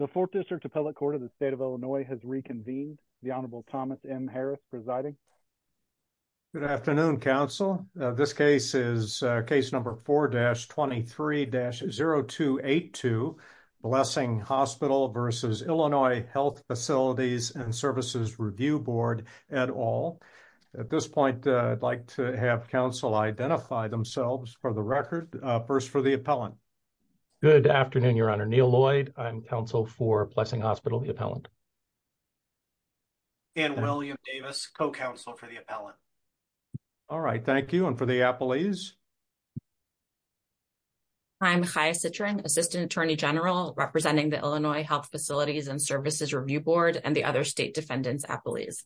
The Fourth District Appellate Court of the State of Illinois has reconvened. The Honorable Thomas M. Harris presiding. Good afternoon, counsel. This case is case number 4-23-0282, Blessing Hospital v. Illinois Health Facilities & Services Review Board, et al. At this point, I'd like to have counsel identify themselves for the record. First, for the appellant. Good afternoon, Your Honor. Neil Lloyd, I'm counsel for Blessing Hospital, the appellant. Dan William Davis, co-counsel for the appellant. All right, thank you. And for the appellees? I'm Chaya Citrin, Assistant Attorney General representing the Illinois Health Facilities and Services Review Board and the other state defendants appellees.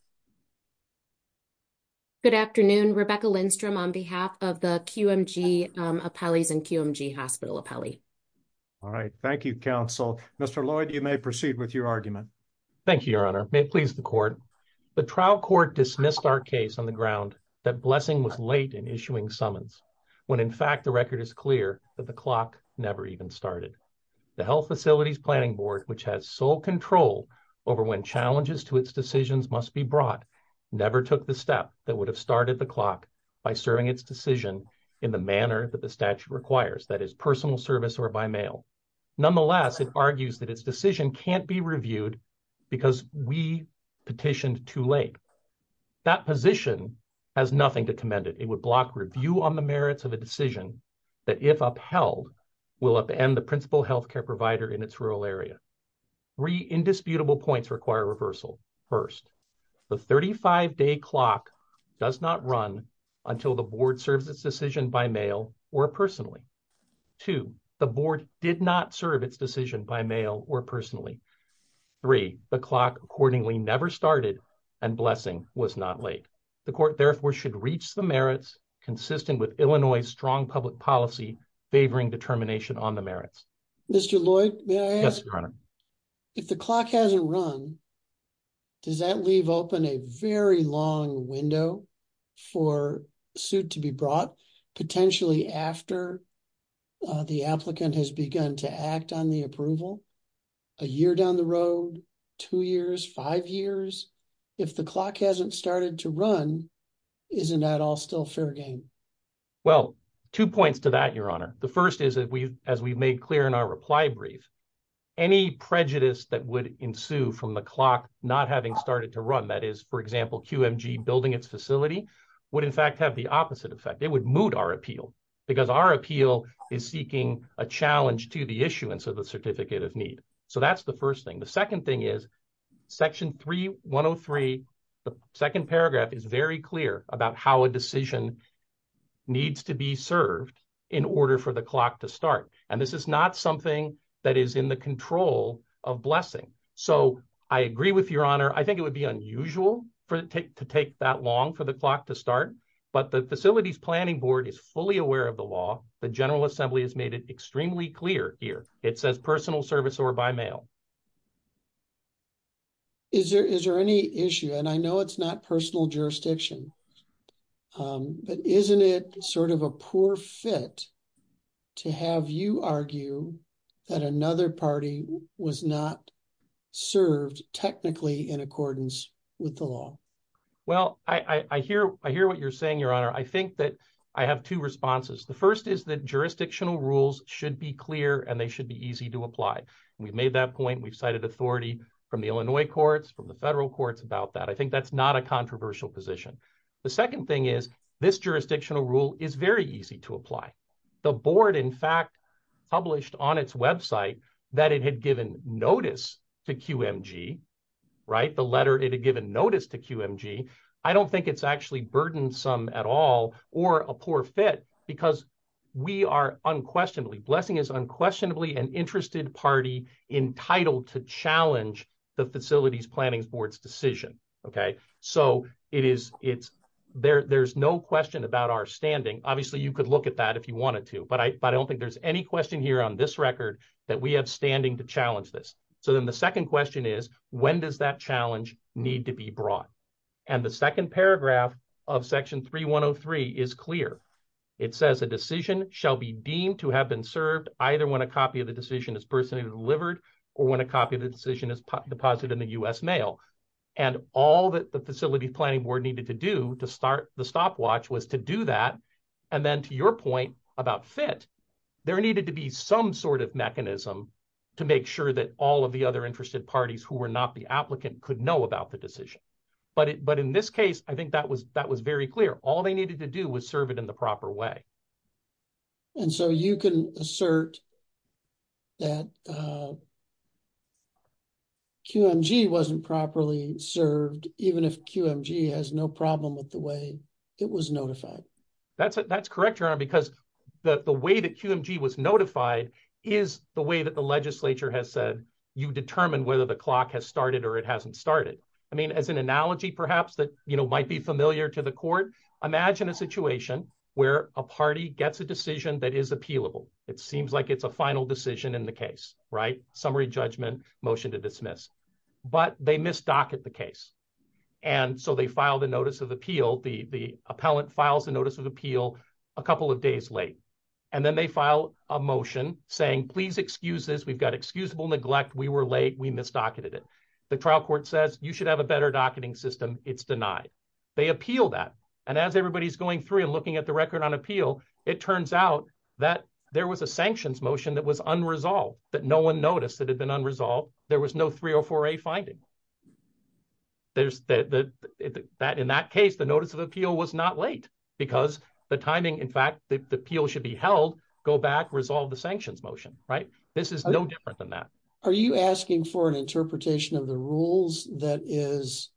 Good afternoon, Rebecca Lindstrom on behalf of the QMG appellees and QMG Hospital appellee. All right, thank you, counsel. Mr. Lloyd, you may proceed with your argument. Thank you, Your Honor. May it please the court. The trial court dismissed our case on the ground that Blessing was late in issuing summons, when in fact the record is clear that the clock never even started. The Health Facilities Planning Board, which has sole control over when challenges to its decisions must be brought, never took the step that would have started the clock by serving its decision in the manner that the statute requires, that is, personal service or by mail. Nonetheless, it argues that its decision can't be reviewed because we petitioned too late. That position has nothing to commend it. It would block review on the merits of a decision that if upheld, will upend the principal health care provider in its rural area. Three indisputable points require reversal. First, the 35-day clock does not run until the board serves its decision by mail or personally. Two, the board did not serve its decision by mail or personally. Three, the clock accordingly never started and Blessing was not late. The court therefore should reach the merits consistent with Illinois' strong public policy favoring termination on the merits. Mr. Lloyd, may I ask? Yes, Your Honor. If the clock hasn't run, does that leave open a very long window for suit to be brought potentially after the applicant has begun to act on the approval? A year down the road, two years, five years? If the clock hasn't started to run, isn't that all still fair game? Well, two points to that, Your Honor. The first is, as we've made clear in our reply brief, any prejudice that would ensue from the clock not having started to run, that is, for example, QMG building its facility, would in fact have the opposite effect. It would moot our appeal because our appeal is seeking a challenge to the issuance of the certificate of need. So that's the first thing. The second thing order for the clock to start. And this is not something that is in the control of Blessing. So I agree with Your Honor. I think it would be unusual to take that long for the clock to start. But the Facilities Planning Board is fully aware of the law. The General Assembly has made it extremely clear here. It says personal service or by mail. Is there any issue, and I know it's not personal jurisdiction, but isn't it sort of a poor fit to have you argue that another party was not served technically in accordance with the law? Well, I hear what you're saying, Your Honor. I think that I have two responses. The first is that jurisdictional rules should be clear and they should be easy to apply. We've made that point. We've cited authority from the Illinois courts, from the federal courts about that. I think that's not a controversial position. The second thing is this jurisdictional rule is very easy to apply. The board, in fact, published on its website that it had given notice to QMG, right? The letter it had given notice to QMG. I don't think it's actually burdensome at all or a poor fit because we are unquestionably, Blessing is unquestionably an interested party entitled to challenge the facilities planning board's decision, okay? So there's no question about our standing. Obviously, you could look at that if you wanted to, but I don't think there's any question here on this record that we have standing to challenge this. So then the second question is, when does that challenge need to be brought? And the second paragraph of section 3103 is clear. It says a decision shall be deemed to have been served either when a copy of the decision is personally delivered or when a copy of the decision is deposited in the U.S. mail. And all that the facilities planning board needed to do to start the stopwatch was to do that. And then to your point about fit, there needed to be some sort of mechanism to make sure that all of the other interested parties who were not the applicant could know about the decision. But in this case, I think that was very clear. All they needed to do serve it in the proper way. And so you can assert that QMG wasn't properly served, even if QMG has no problem with the way it was notified. That's correct, Your Honor, because the way that QMG was notified is the way that the legislature has said you determine whether the clock has started or it hasn't started. I mean, as an where a party gets a decision that is appealable, it seems like it's a final decision in the case, right? Summary judgment, motion to dismiss. But they misdocket the case. And so they file the notice of appeal. The appellant files a notice of appeal a couple of days late. And then they file a motion saying, please excuse this. We've got excusable neglect. We were late. We misdocumented it. The trial court says you should have a better docketing system. It's denied. They appeal that. And as everybody's going through and looking at the record on appeal, it turns out that there was a sanctions motion that was unresolved, that no one noticed that had been unresolved. There was no 304A finding. In that case, the notice of appeal was not late because the timing, in fact, the appeal should be held, go back, resolve the sanctions motion, right? This is no different than that. Are you asking for an interpretation of the rules that is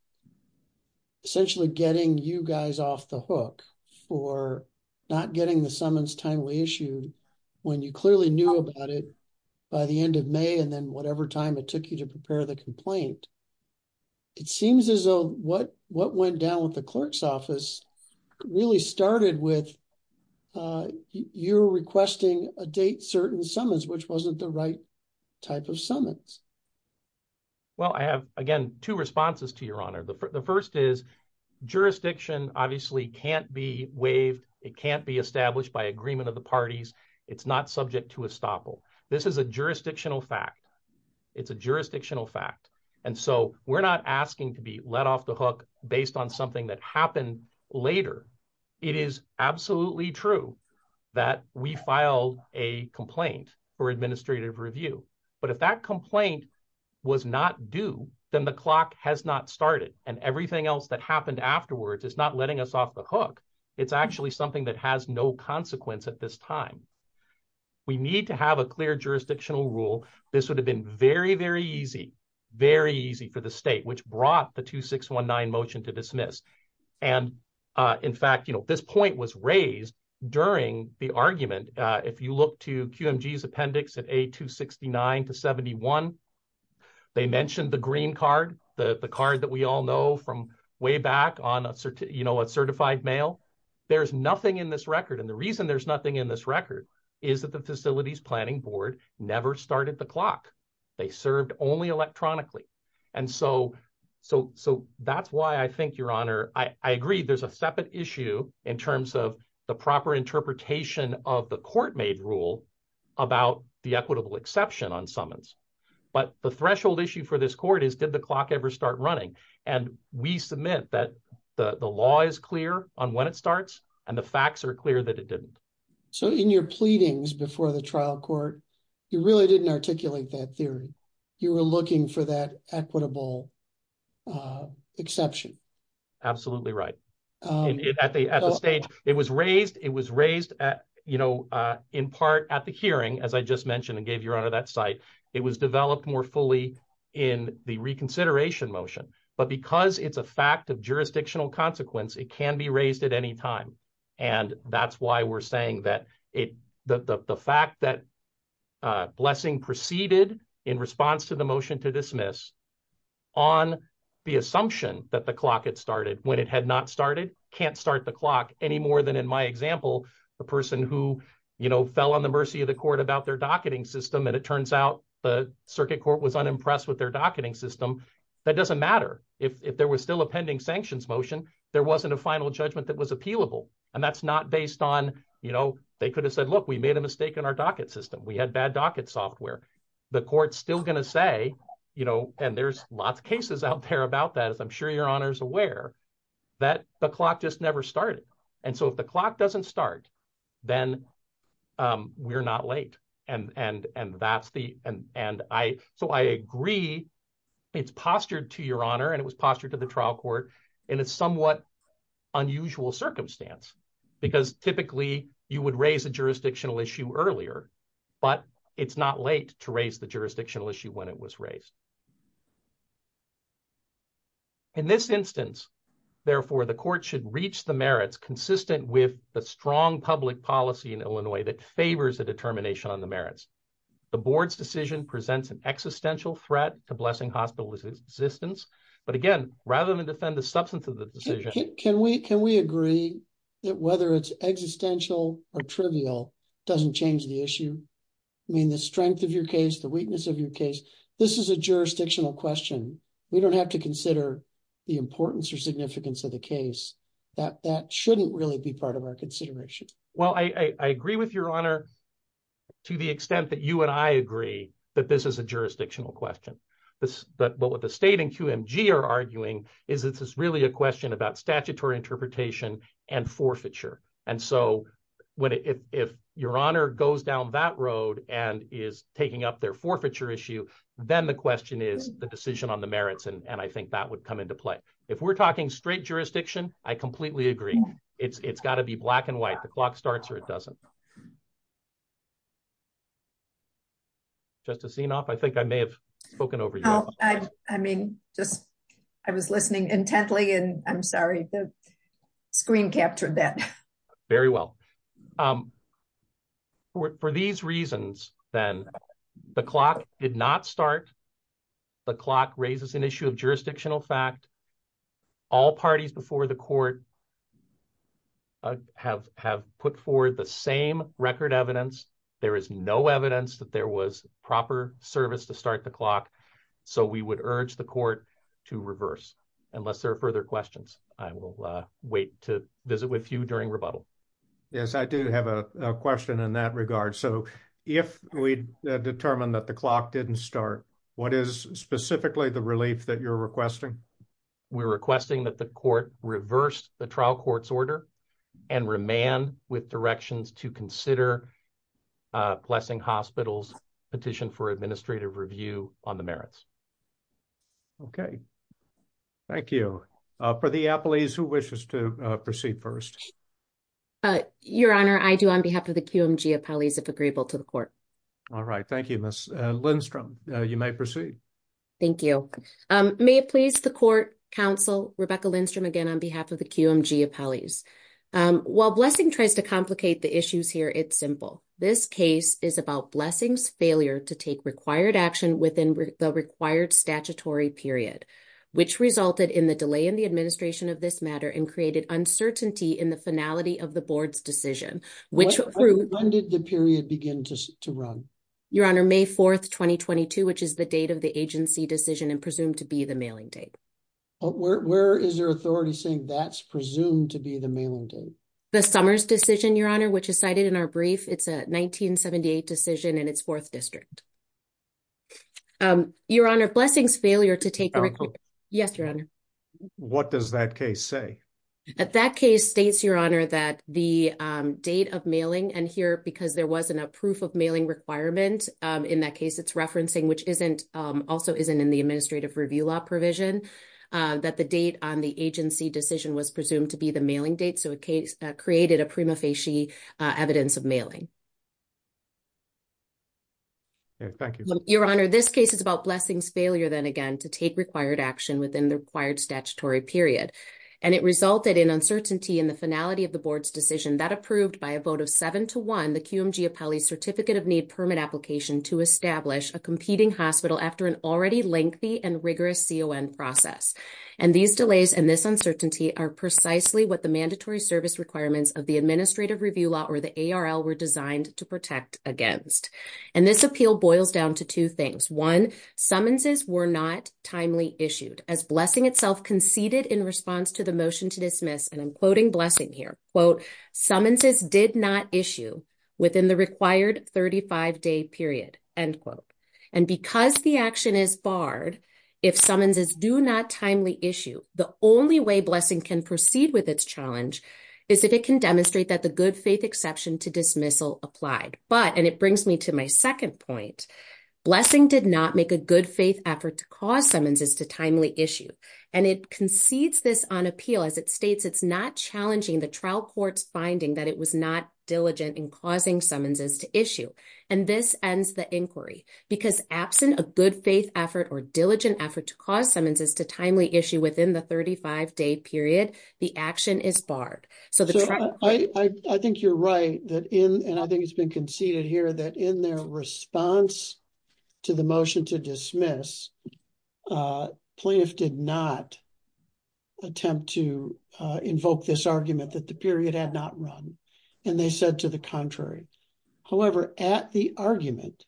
essentially getting you guys off the hook for not getting the summons timely issued when you clearly knew about it by the end of May and then whatever time it took you to prepare the complaint? It seems as though what went down with the clerk's office really started with your requesting a date certain summons, which wasn't the right type of summons. Well, I have, again, two responses to your honor. The can't be waived. It can't be established by agreement of the parties. It's not subject to estoppel. This is a jurisdictional fact. It's a jurisdictional fact. And so we're not asking to be let off the hook based on something that happened later. It is absolutely true that we file a complaint for administrative review. But if that complaint was not due, then the clock has not started. And everything else that happened afterwards is not letting us off the hook. It's actually something that has no consequence at this time. We need to have a clear jurisdictional rule. This would have been very, very easy, very easy for the state, which brought the 2619 motion to dismiss. And in fact, this point was raised during the argument. If you look to QMG's appendix at a 269 to 71, they mentioned the green card, the card that we all know from way back on a certified mail. There's nothing in this record. And the reason there's nothing in this record is that the facilities planning board never started the clock. They served only electronically. And so that's why I think your honor, I agree there's a separate issue in terms of the proper interpretation of the court made rule about the equitable exception on summons. But the threshold issue for this court is did the clock ever start running? And we submit that the law is clear on when it starts and the facts are clear that it didn't. So in your pleadings before the trial court, you really didn't articulate that theory. You were looking for that equitable exception. Absolutely right. At the stage it was raised, it was raised at, you know, in part at the hearing, as I just mentioned and gave your honor that site, it was developed more fully in the reconsideration motion. But because it's a fact of jurisdictional consequence, it can be raised at any time. And that's why we're saying that the fact that blessing proceeded in response to the motion to dismiss on the assumption that the clock had started when it had not started, can't start the clock any more than in my example, the person who, you know, fell on the mercy of the court about their docketing system. And it turns out the circuit court was unimpressed with their docketing system. That doesn't matter. If there was still a pending sanctions motion, there wasn't a final judgment that was appealable. And that's not based on, you know, they could have said, look, we made a mistake in our docket system. We had bad docket software. The court's still going to say, you know, and there's lots of cases out there about that, as I'm sure your honor is aware, that the clock just never started. And so if the clock doesn't start, then we're not late. And, and, and that's the, and, and I, so I agree it's postured to your honor, and it was postured to the trial court in a somewhat unusual circumstance, because typically you would raise a jurisdictional issue earlier, but it's not late to raise the jurisdictional issue when it was raised. In this instance, therefore the court should reach the merits consistent with the strong public policy in Illinois that favors a determination on the merits. The board's decision presents an existential threat to Blessing Hospital's existence. But again, rather than defend the substance of the decision. Can we, can we agree that whether it's existential or trivial doesn't change the issue? I mean, the strength of your case, the weakness of your case, this is a jurisdictional question. We don't have to consider the importance or significance of the case. That, that shouldn't really be part of our consideration. Well, I, I agree with your honor to the extent that you and I agree that this is a jurisdictional question. This, but what the state and QMG are arguing is this is really a question about statutory interpretation and forfeiture. And so when, if, if your honor goes down that road and is taking up their forfeiture issue, then the question is the decision on the merits. And I think that would come into play. If we're talking straight jurisdiction, I completely agree. It's, it's got to be black and white. The clock starts or it doesn't. Just a scene off. I think I may have spoken over you. I mean, just, I was listening intently and I'm sorry, the screen captured that very well. For these reasons, then the clock did not start. The clock raises an issue of jurisdictional fact. All parties before the court have, have put forward the same record evidence. There is no evidence that there was proper service to start the clock. So we would urge the court to reverse unless there are further questions. I will wait to visit with you during rebuttal. Yes, I do have a question in that regard. So if we determine that the clock didn't start, what is specifically the relief that you're requesting? We're requesting that the court petition for administrative review on the merits. Okay. Thank you. For the appellees, who wishes to proceed first? Your Honor, I do on behalf of the QMG appellees, if agreeable to the court. All right. Thank you, Ms. Lindstrom. You may proceed. Thank you. May it please the court counsel, Rebecca Lindstrom, again, on behalf of the QMG appellees. While Blessing tries to complicate the issues here, it's simple. This case is about Blessing's failure to take required action within the required statutory period, which resulted in the delay in the administration of this matter and created uncertainty in the finality of the board's decision. When did the period begin to run? Your Honor, May 4th, 2022, which is the date of the agency decision and presumed to be the mailing date. Where is there authority saying that's decision, Your Honor, which is cited in our brief? It's a 1978 decision in its fourth district. Your Honor, Blessing's failure to take... Yes, Your Honor. What does that case say? That case states, Your Honor, that the date of mailing, and here, because there wasn't a proof of mailing requirement, in that case, it's referencing, which also isn't in the administrative review law provision, that the date on the agency decision was presumed to be the mailing date. So, created a prima facie evidence of mailing. Thank you. Your Honor, this case is about Blessing's failure, then again, to take required action within the required statutory period, and it resulted in uncertainty in the finality of the board's decision that approved by a vote of seven to one the QMG Appellee Certificate of Need permit application to establish a competing hospital after an already lengthy and rigorous CON process. And these delays and this uncertainty are precisely what mandatory service requirements of the administrative review law or the ARL were designed to protect against. And this appeal boils down to two things. One, summonses were not timely issued as Blessing itself conceded in response to the motion to dismiss, and I'm quoting Blessing here, quote, summonses did not issue within the required 35-day period, end quote. And because the action is barred, if summonses do not timely issue, the only way Blessing can proceed with its challenge is if it can demonstrate that the good faith exception to dismissal applied. But, and it brings me to my second point, Blessing did not make a good faith effort to cause summonses to timely issue. And it concedes this on appeal as it states it's not challenging the trial court's finding that it was not diligent in causing summonses to issue. And this ends the inquiry because absent a good faith effort or diligent effort to cause summonses to timely issue within the 35-day period, the action is barred. So the trial court- I think you're right that in, and I think it's been conceded here that in their response to the motion to dismiss, plaintiff did not attempt to invoke this argument that the period had not run. And they said to the contrary. However, at the argument,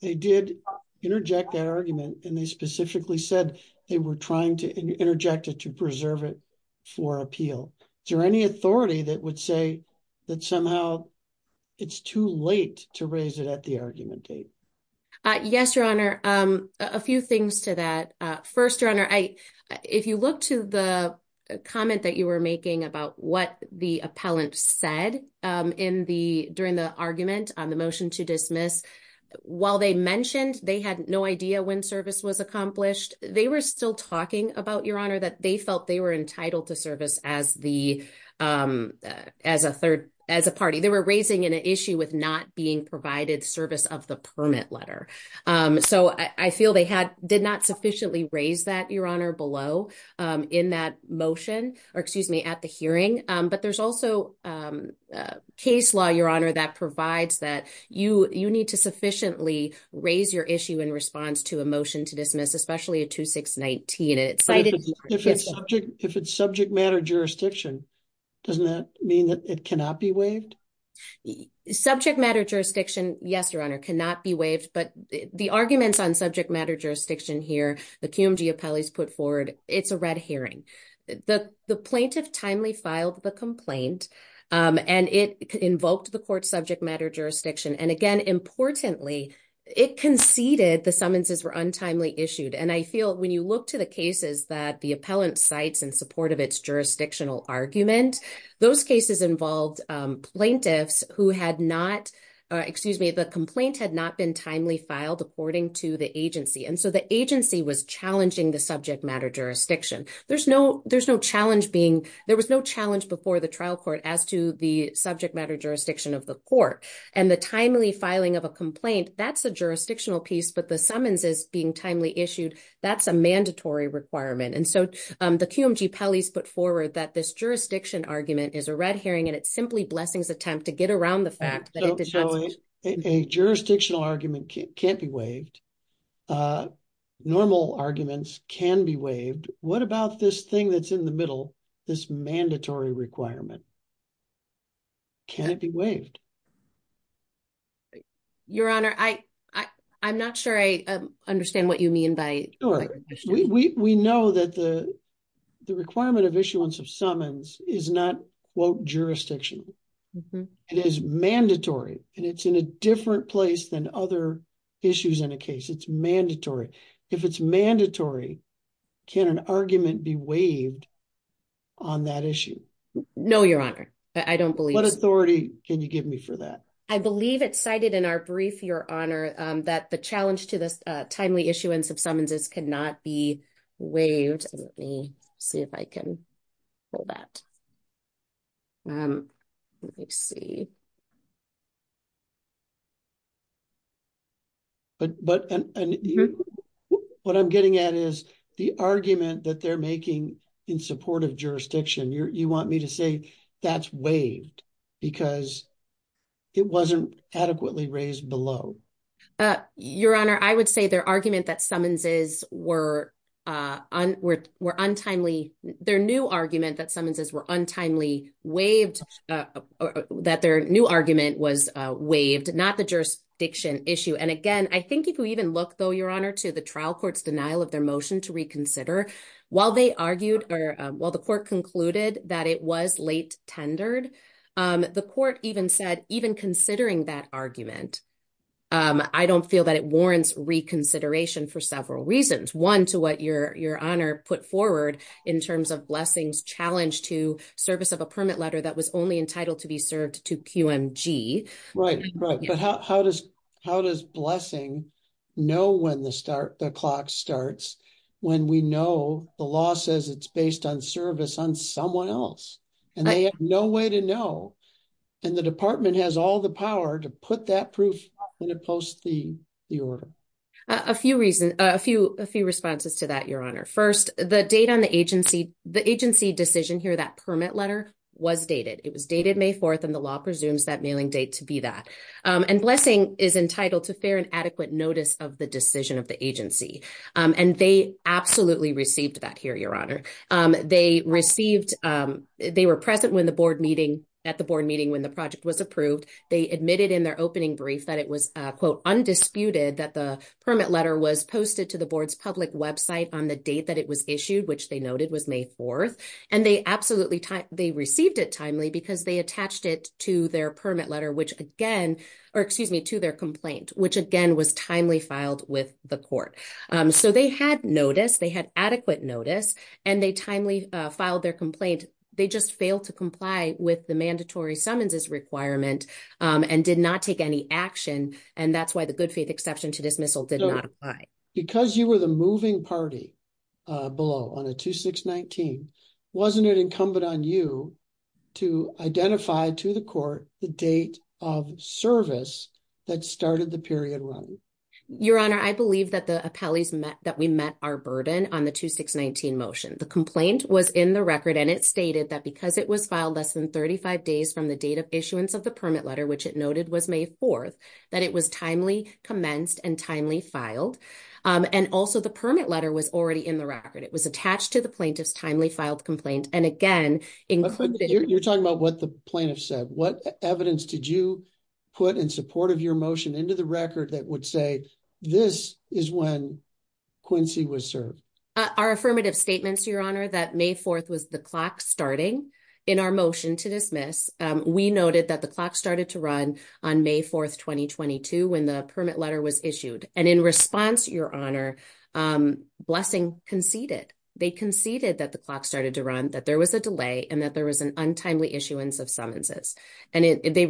they did interject that argument and they specifically said they were trying to interject it to preserve it for appeal. Is there any authority that would say that somehow it's too late to raise it at the argument date? Yes, Your Honor. A few things to that. First, Your Honor, if you look to the comment that you were making about what the appellant said during the argument on the when service was accomplished, they were still talking about, Your Honor, that they felt they were entitled to service as a party. They were raising an issue with not being provided service of the permit letter. So I feel they did not sufficiently raise that, Your Honor, below in that motion, or excuse me, at the hearing. But there's also case law, Your Honor, that provides that you need to sufficiently raise your issue in response to a motion to dismiss, especially a 2619. If it's subject matter jurisdiction, doesn't that mean that it cannot be waived? Subject matter jurisdiction, yes, Your Honor, cannot be waived. But the arguments on subject matter jurisdiction here, the CUMG appellees put forward, it's a red hearing. The plaintiff timely filed the complaint and it invoked the court subject matter jurisdiction. And again, importantly, it conceded the summonses were untimely issued. And I feel when you look to the cases that the appellant cites in support of its jurisdictional argument, those cases involved plaintiffs who had not, excuse me, the complaint had not been timely filed according to the agency. And so the agency was challenging the subject matter jurisdiction. There was no challenge before the trial court as to the subject matter jurisdiction of the court. And the timely filing of a complaint, that's a jurisdictional piece, but the summonses being timely issued, that's a mandatory requirement. And so the CUMG appellees put forward that this jurisdiction argument is a red hearing and it's simply Blessing's attempt to get around the fact that a jurisdictional argument can't be waived. Normal arguments can be waived. What about this thing that's in the middle, this mandatory requirement? Can it be waived? Your Honor, I'm not sure I understand what you mean by- Sure. We know that the requirement of issuance of summons is not, quote, jurisdiction. It is mandatory and it's in a different place than other issues in a case. It's mandatory. If it's mandatory, can an argument be waived on that issue? No, Your Honor. I don't believe- What authority can you give me for that? I believe it's cited in our brief, Your Honor, that the challenge to this timely issuance of summonses cannot be waived. Let me see if I can pull that. Let me see. What I'm getting at is the argument that they're making in support of jurisdiction, you want me to say that's waived because it wasn't adequately raised below. Your Honor, I would say their argument that summonses were untimely, their new argument was waived, not the jurisdiction issue. And again, I think if you even look, though, Your Honor, to the trial court's denial of their motion to reconsider, while they argued, or while the court concluded that it was late-tendered, the court even said, even considering that argument, I don't feel that it warrants reconsideration for several reasons. One, to what Your Honor put forward in terms of blessings, challenges, service of a permit letter that was only entitled to be served to QMG. Right, right. But how does blessing know when the clock starts when we know the law says it's based on service on someone else? And they have no way to know. And the department has all the power to put that proof up when it posts the order. A few responses to that, Your Honor. First, the agency decision here, that permit letter, was dated. It was dated May 4th, and the law presumes that mailing date to be that. And blessing is entitled to fair and adequate notice of the decision of the agency. And they absolutely received that here, Your Honor. They were present at the board meeting when the project was approved. They admitted in their opening brief that it was, quote, undisputed that the permit letter was posted to the board's public website on the date that it was issued, which they noted was May 4th. And they absolutely, they received it timely because they attached it to their permit letter, which again, or excuse me, to their complaint, which again was timely filed with the court. So they had notice, they had adequate notice, and they timely filed their complaint. They just failed to comply with the mandatory summonses requirement and did not take any action. And that's why the good faith exception to dismissal did not apply. Because you were the moving party below on a 2619, wasn't it incumbent on you to identify to the court the date of service that started the period run? Your Honor, I believe that the appellees met, that we met our burden on the 2619 motion. The complaint was in the record, and it stated that because it was filed less than 35 days from the date of issuance of the permit letter, which it noted was May 4th, that it was timely commenced and timely filed. And also the permit letter was already in the record. It was attached to the plaintiff's timely filed complaint. And again- You're talking about what the plaintiff said. What evidence did you put in support of your motion into the record that would say, this is when Quincy was served? Our affirmative statements, Your Honor, that May 4th was the clock starting in our motion to dismiss, we noted that the clock started to run on May 4th, 2022, when the permit letter was issued. And in response, Your Honor, Blessing conceded. They conceded that the clock started to run, that there was a delay, and that there was an untimely issuance of summonses. And they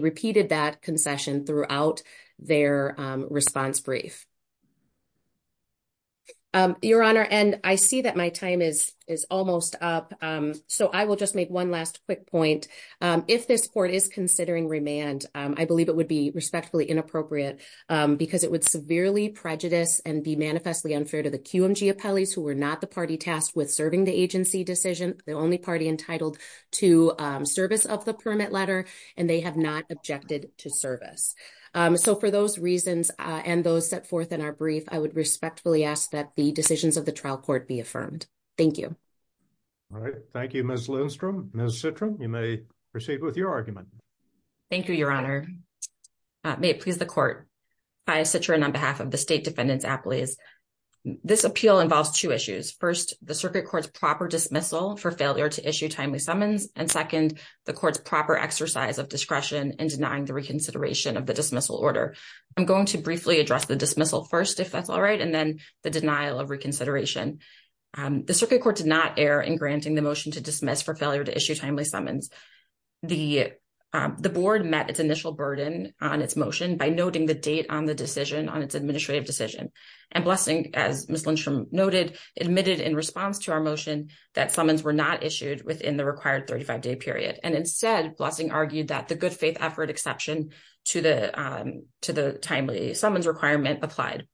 repeated that concession throughout their response brief. Your Honor, and I see that my time is almost up. So I will just make one last quick point. If this court is considering remand, I believe it would be respectfully inappropriate because it would severely prejudice and be manifestly unfair to the QMG appellees who were not the party tasked with serving the agency decision, the only party entitled to service of the permit letter, and they have not objected to service. So for those reasons, and those set forth in our brief, I would respectfully ask that the decisions of the trial court be affirmed. Thank you. All right. Thank you, Ms. Lindstrom. Ms. Citrin, you may proceed with your argument. Thank you, Your Honor. May it please the court, I, Citrin, on behalf of the state defendants appellees, this appeal involves two issues. First, the circuit court's failure to issue timely summons. And second, the court's proper exercise of discretion in denying the reconsideration of the dismissal order. I'm going to briefly address the dismissal first, if that's all right, and then the denial of reconsideration. The circuit court did not err in granting the motion to dismiss for failure to issue timely summons. The board met its initial burden on its motion by noting the date on the decision, on its administrative decision. And Blessing, as Ms. Lindstrom noted, admitted in response to our motion that summons were not issued within the required 35-day period. And instead, Blessing argued that the good faith effort exception to the timely summons requirement applied.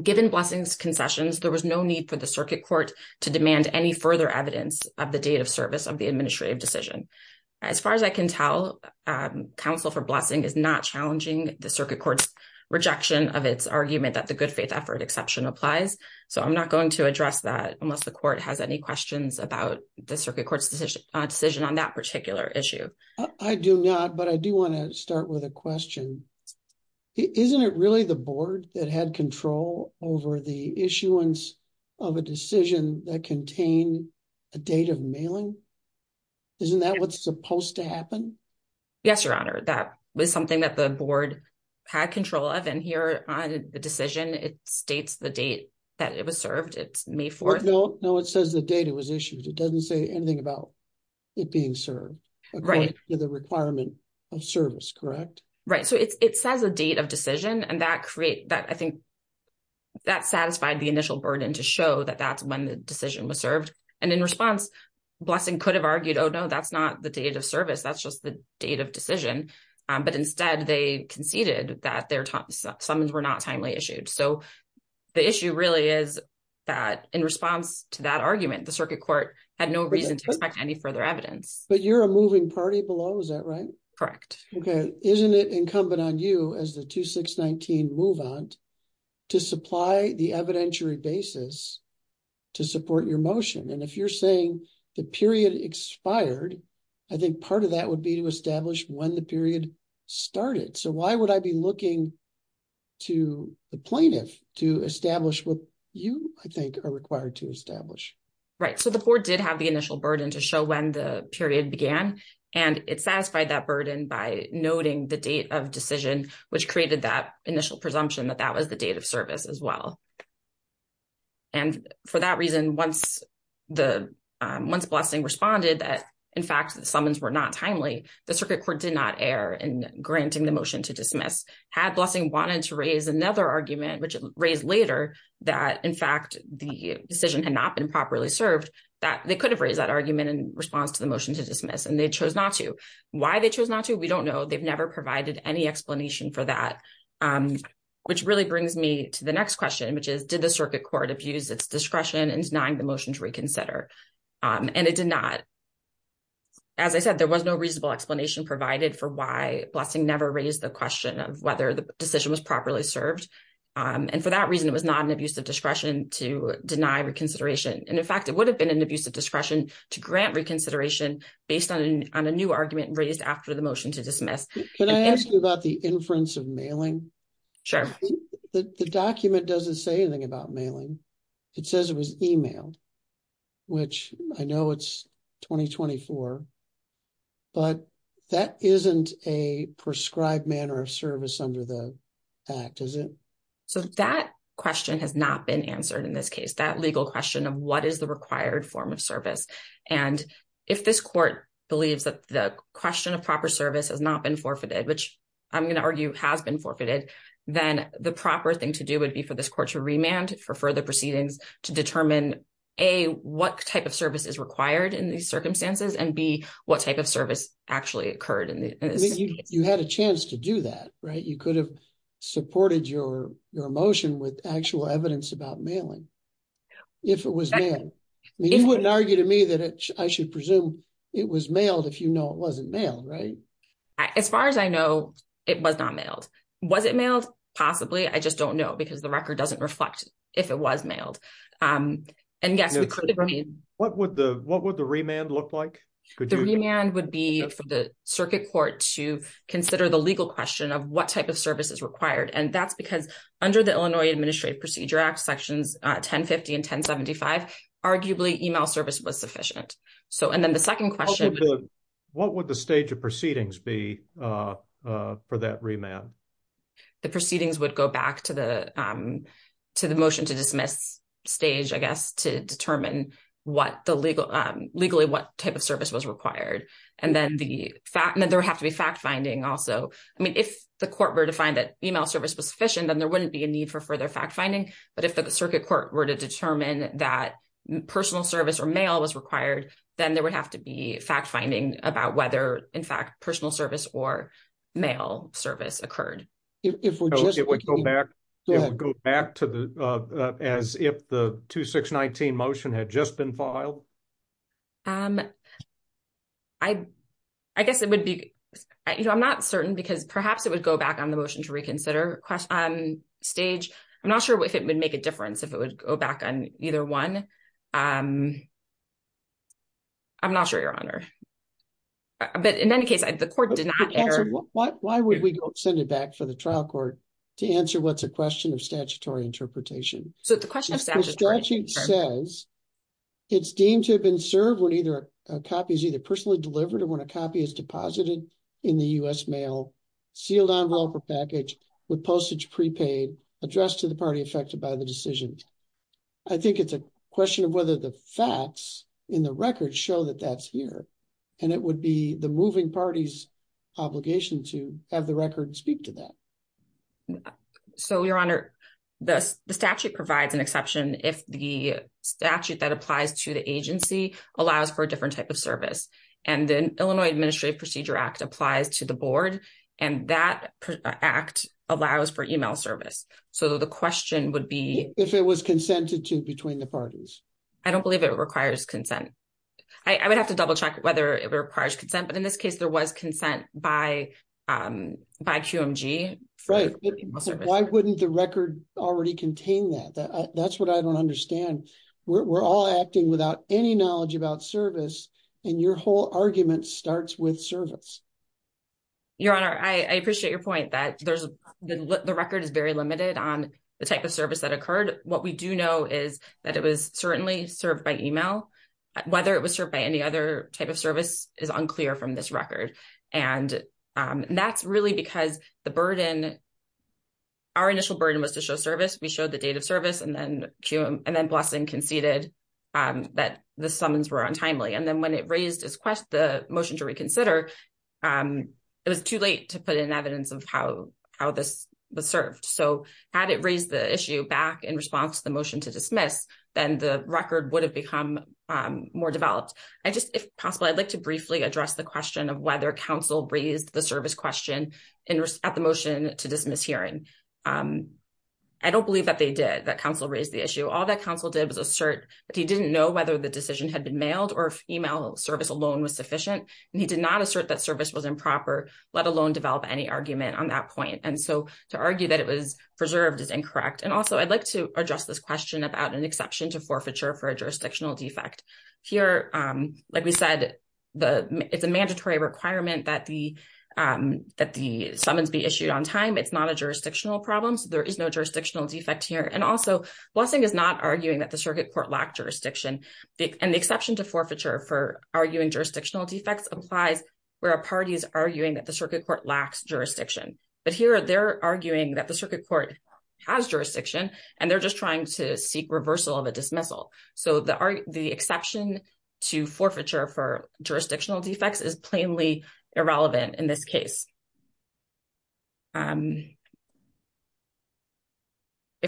Given Blessing's concessions, there was no need for the circuit court to demand any further evidence of the date of service of the administrative decision. As far as I can tell, counsel for Blessing is not challenging the circuit court's argument that the good faith effort exception applies. So I'm not going to address that unless the court has any questions about the circuit court's decision on that particular issue. I do not, but I do want to start with a question. Isn't it really the board that had control over the issuance of a decision that contained a date of mailing? Isn't that what's supposed to it states the date that it was served? It's May 4th. No, it says the date it was issued. It doesn't say anything about it being served according to the requirement of service, correct? Right. So it says a date of decision, and I think that satisfied the initial burden to show that that's when the decision was served. And in response, Blessing could have argued, oh, no, that's not the date of service. That's just date of decision. But instead, they conceded that their summons were not timely issued. So the issue really is that in response to that argument, the circuit court had no reason to expect any further evidence. But you're a moving party below. Is that right? Correct. Okay. Isn't it incumbent on you as the 2619 move-on to supply the evidentiary basis to support your motion? And if you're saying the period expired, I think part of that would be to establish when the period started. So why would I be looking to the plaintiff to establish what you, I think, are required to establish? Right. So the court did have the initial burden to show when the period began, and it satisfied that burden by noting the date of decision, which created that initial presumption that that was the service as well. And for that reason, once Blessing responded that, in fact, the summons were not timely, the circuit court did not err in granting the motion to dismiss. Had Blessing wanted to raise another argument, which it raised later, that, in fact, the decision had not been properly served, that they could have raised that argument in response to the motion to dismiss, and they chose not to. Why they chose not to, we don't know. They've never provided any explanation for that, which really brings me to the next question, which is, did the circuit court abuse its discretion in denying the motion to reconsider? And it did not. As I said, there was no reasonable explanation provided for why Blessing never raised the question of whether the decision was properly served. And for that reason, it was not an abuse of discretion to deny reconsideration. And, in fact, it would have been an abuse of discretion to grant reconsideration based on a argument raised after the motion to dismiss. Can I ask you about the inference of mailing? Sure. The document doesn't say anything about mailing. It says it was emailed, which I know it's 2024, but that isn't a prescribed manner of service under the act, is it? So that question has not been answered in this case, that legal question of what is the required form of service. And if this court believes that the question of proper service has not been forfeited, which I'm going to argue has been forfeited, then the proper thing to do would be for this court to remand for further proceedings to determine, A, what type of service is required in these circumstances, and B, what type of service actually occurred in this case. You had a chance to do that, right? You could have supported your motion with actual evidence about mailing, if it was mailed. You wouldn't argue to me that I should presume it was mailed if you know it wasn't mailed, right? As far as I know, it was not mailed. Was it mailed? Possibly. I just don't know because the record doesn't reflect if it was mailed. And, yes, we could. What would the remand look like? The remand would be for the circuit court to consider the legal question of what type of service is required. And that's because under the Illinois Administrative Procedure Act, Sections 1050 and 1075, arguably, email service was sufficient. And then the second question... What would the stage of proceedings be for that remand? The proceedings would go back to the motion to dismiss stage, I guess, to determine legally what type of service was required. And then there would have to be fact-finding also. I mean, if the court were to find that but if the circuit court were to determine that personal service or mail was required, then there would have to be fact-finding about whether, in fact, personal service or mail service occurred. It would go back to as if the 2619 motion had just been filed? I guess it would be... I'm not certain because perhaps it would go back on the motion to dismiss. I'm not sure if it would make a difference if it would go back on either one. I'm not sure, Your Honor. But in any case, the court did not... Why would we send it back for the trial court to answer what's a question of statutory interpretation? So the question of statutory interpretation... The statute says it's deemed to have been served when either a copy is either personally delivered or when a copy is deposited in the U.S. mail, sealed envelope or package with postage prepaid addressed to the party affected by the decision. I think it's a question of whether the facts in the record show that that's here. And it would be the moving party's obligation to have the record speak to that. So, Your Honor, the statute provides an exception if the statute that applies to the agency allows for a different type of service. And the Illinois Administrative Procedure Act applies to the board and that act allows for email service. So the question would be... If it was consented to between the parties. I don't believe it requires consent. I would have to double check whether it requires consent, but in this case, there was consent by QMG. Right. Why wouldn't the record already contain that? That's what I don't understand. We're all acting without any knowledge about service and your whole argument starts with service. Your Honor, I appreciate your point that the record is very limited on the type of service that occurred. What we do know is that it was certainly served by email. Whether it was served by any other type of service is unclear from this record. And that's really because the burden... Our initial burden was to show service. We showed the date of service and then blessing conceded that the summons were untimely. And then when it raised the motion to reconsider, it was too late to put in evidence of how this was served. So had it raised the issue back in response to the motion to dismiss, then the record would have become more developed. If possible, I'd like to briefly address the question of whether counsel raised the service question at the motion to dismiss hearing. I don't believe that they did, that counsel raised the issue. All that counsel did was assert that he didn't know whether the decision had been mailed or if email service alone was sufficient. And he did not assert that service was improper, let alone develop any argument on that point. And so to argue that it was preserved is incorrect. And also I'd like to address this question about an exception to forfeiture for a that the summons be issued on time. It's not a jurisdictional problem. So there is no jurisdictional defect here. And also blessing is not arguing that the circuit court lacked jurisdiction. And the exception to forfeiture for arguing jurisdictional defects applies where a party is arguing that the circuit court lacks jurisdiction. But here they're arguing that the circuit court has jurisdiction and they're just trying to seek reversal of a dismissal. So the exception to forfeiture for jurisdictional defects is plainly irrelevant in this case. If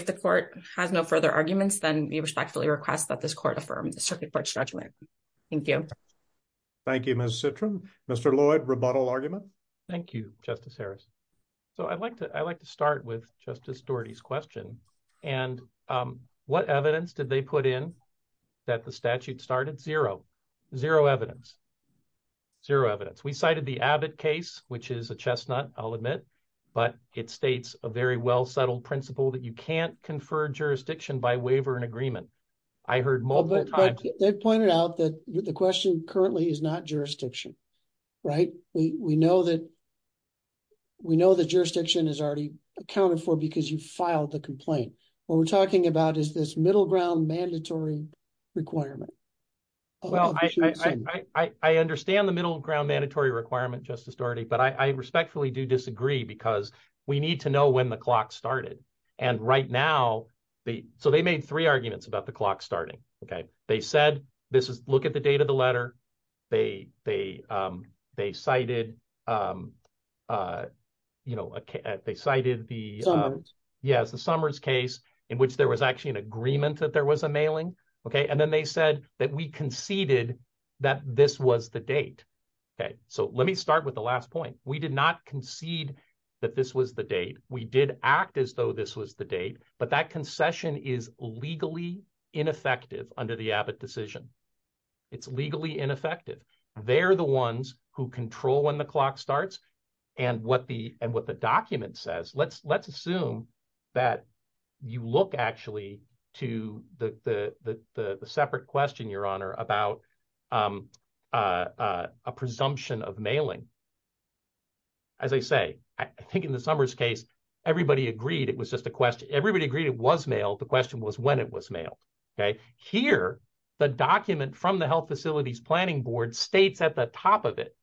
the court has no further arguments, then we respectfully request that this court affirm the circuit court's judgment. Thank you. Thank you, Ms. Citram. Mr. Lloyd, rebuttal argument? Thank you, Justice Harris. So I'd like to start with Justice Doherty's question. And what evidence did they put in that the statute started? Zero. Zero evidence. Zero evidence. We cited the Abbott case, which is a chestnut, I'll admit, but it states a very well-settled principle that you can't confer jurisdiction by waiver and agreement. I heard multiple times. They pointed out that the question currently is not jurisdiction, right? We know that what we're talking about is this middle ground mandatory requirement. Well, I understand the middle ground mandatory requirement, Justice Doherty, but I respectfully do disagree because we need to know when the clock started. And right now, so they made three arguments about the clock starting, okay? They said, look at the date of the letter. They cited the Summers case in which there was actually an agreement that there was a mailing, okay? And then they said that we conceded that this was the date, okay? So let me start with the last point. We did not concede that this was the date. We did act as though this was the date, but that concession is legally ineffective under the Abbott decision. It's legally ineffective. They're the ones who control when the clock starts and what the document says. Let's assume that you look actually to the separate question, Your Honor, about a presumption of mailing. As I say, I think in the Summers case, everybody agreed it was just a question. Everybody agreed it was mailed. The question was when it was mailed, okay? Here, the document from the health facilities planning board states at the top of it,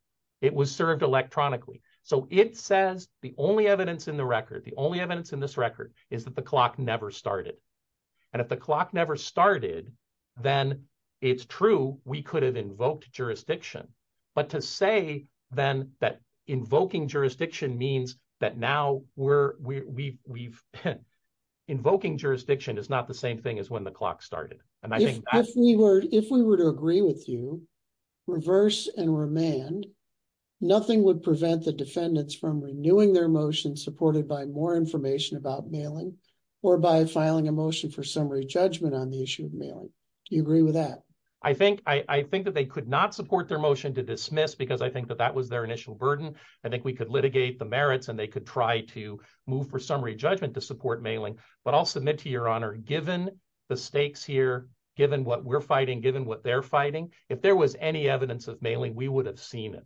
it was served electronically. So it says the only evidence in the record, the only evidence in this record is that the clock never started. And if the clock never started, then it's true, we could have invoked jurisdiction. But to say then that invoking jurisdiction means that now we're, we've, invoking jurisdiction is not the reverse and remand. Nothing would prevent the defendants from renewing their motion supported by more information about mailing or by filing a motion for summary judgment on the issue of mailing. Do you agree with that? I think that they could not support their motion to dismiss because I think that that was their initial burden. I think we could litigate the merits and they could try to move for summary judgment to support mailing. But I'll submit to Your Honor, given the stakes here, given what we're fighting, given what they're fighting, if there was any evidence of mailing, we would have seen it.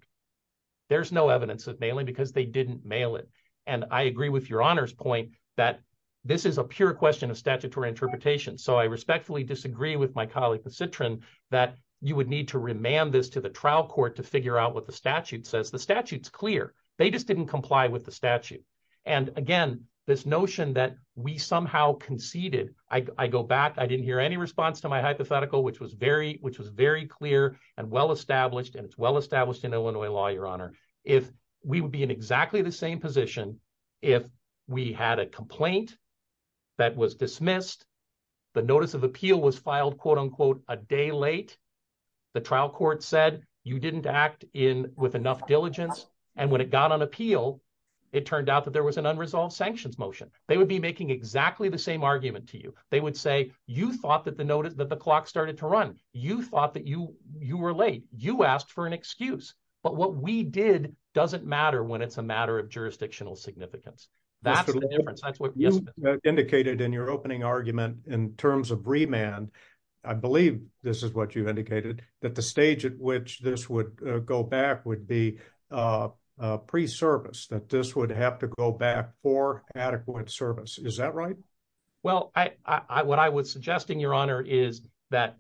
There's no evidence of mailing because they didn't mail it. And I agree with Your Honor's point that this is a pure question of statutory interpretation. So I respectfully disagree with my colleague, the Citrin, that you would need to remand this to the trial court to figure out what the statute says. The statute's clear. They just didn't comply with the statute. And again, this notion that we somehow conceded, I go back, I didn't hear any response to my hypothetical, which was very clear and well-established, and it's well-established in Illinois law, Your Honor. If we would be in exactly the same position, if we had a complaint that was dismissed, the notice of appeal was filed, quote unquote, a day late, the trial court said you didn't act with enough diligence. And when it got on appeal, it turned out that there was an unresolved sanctions motion. They would be making exactly the same argument to you. They would say, you thought that the clock started to run. You thought that you were late. You asked for an excuse. But what we did doesn't matter when it's a matter of jurisdictional significance. That's the difference. That's what you indicated in your opening argument in terms of remand. I believe this is what you indicated, that the stage at which this would go back would be pre-service, that this would have to go back for adequate service. Is that right? Well, what I was suggesting, Your Honor, is that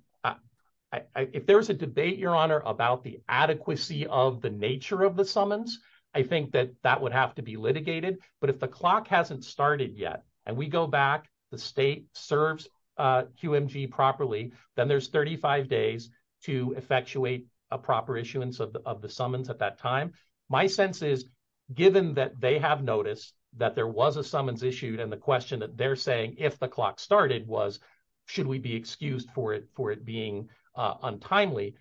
if there was a debate, Your Honor, about the adequacy of the nature of the summons, I think that that would have to be litigated. But if the clock hasn't started yet, and we go back, the state serves QMG properly, then there's 35 days to effectuate a proper issuance of the summons at that time. My sense is, given that they have noticed that there was a summons issued, and the question that they're saying, if the clock started, was, should we be excused for it being untimely?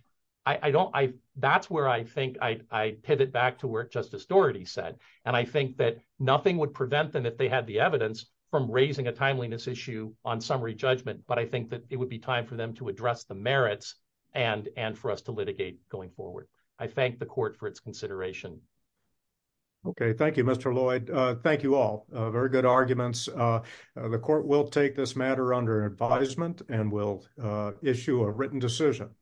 That's where I think I pivot back to what Justice Doherty said. And I think that nothing would prevent them, if they had the evidence, from raising a timeliness issue on summary judgment. But I think that it would be time for them to address the merits, and for us to litigate going forward. I thank the court for its consideration. Okay. Thank you, Mr. Lloyd. Thank you all. Very good arguments. The court will take this matter under advisement, and we'll issue a written decision.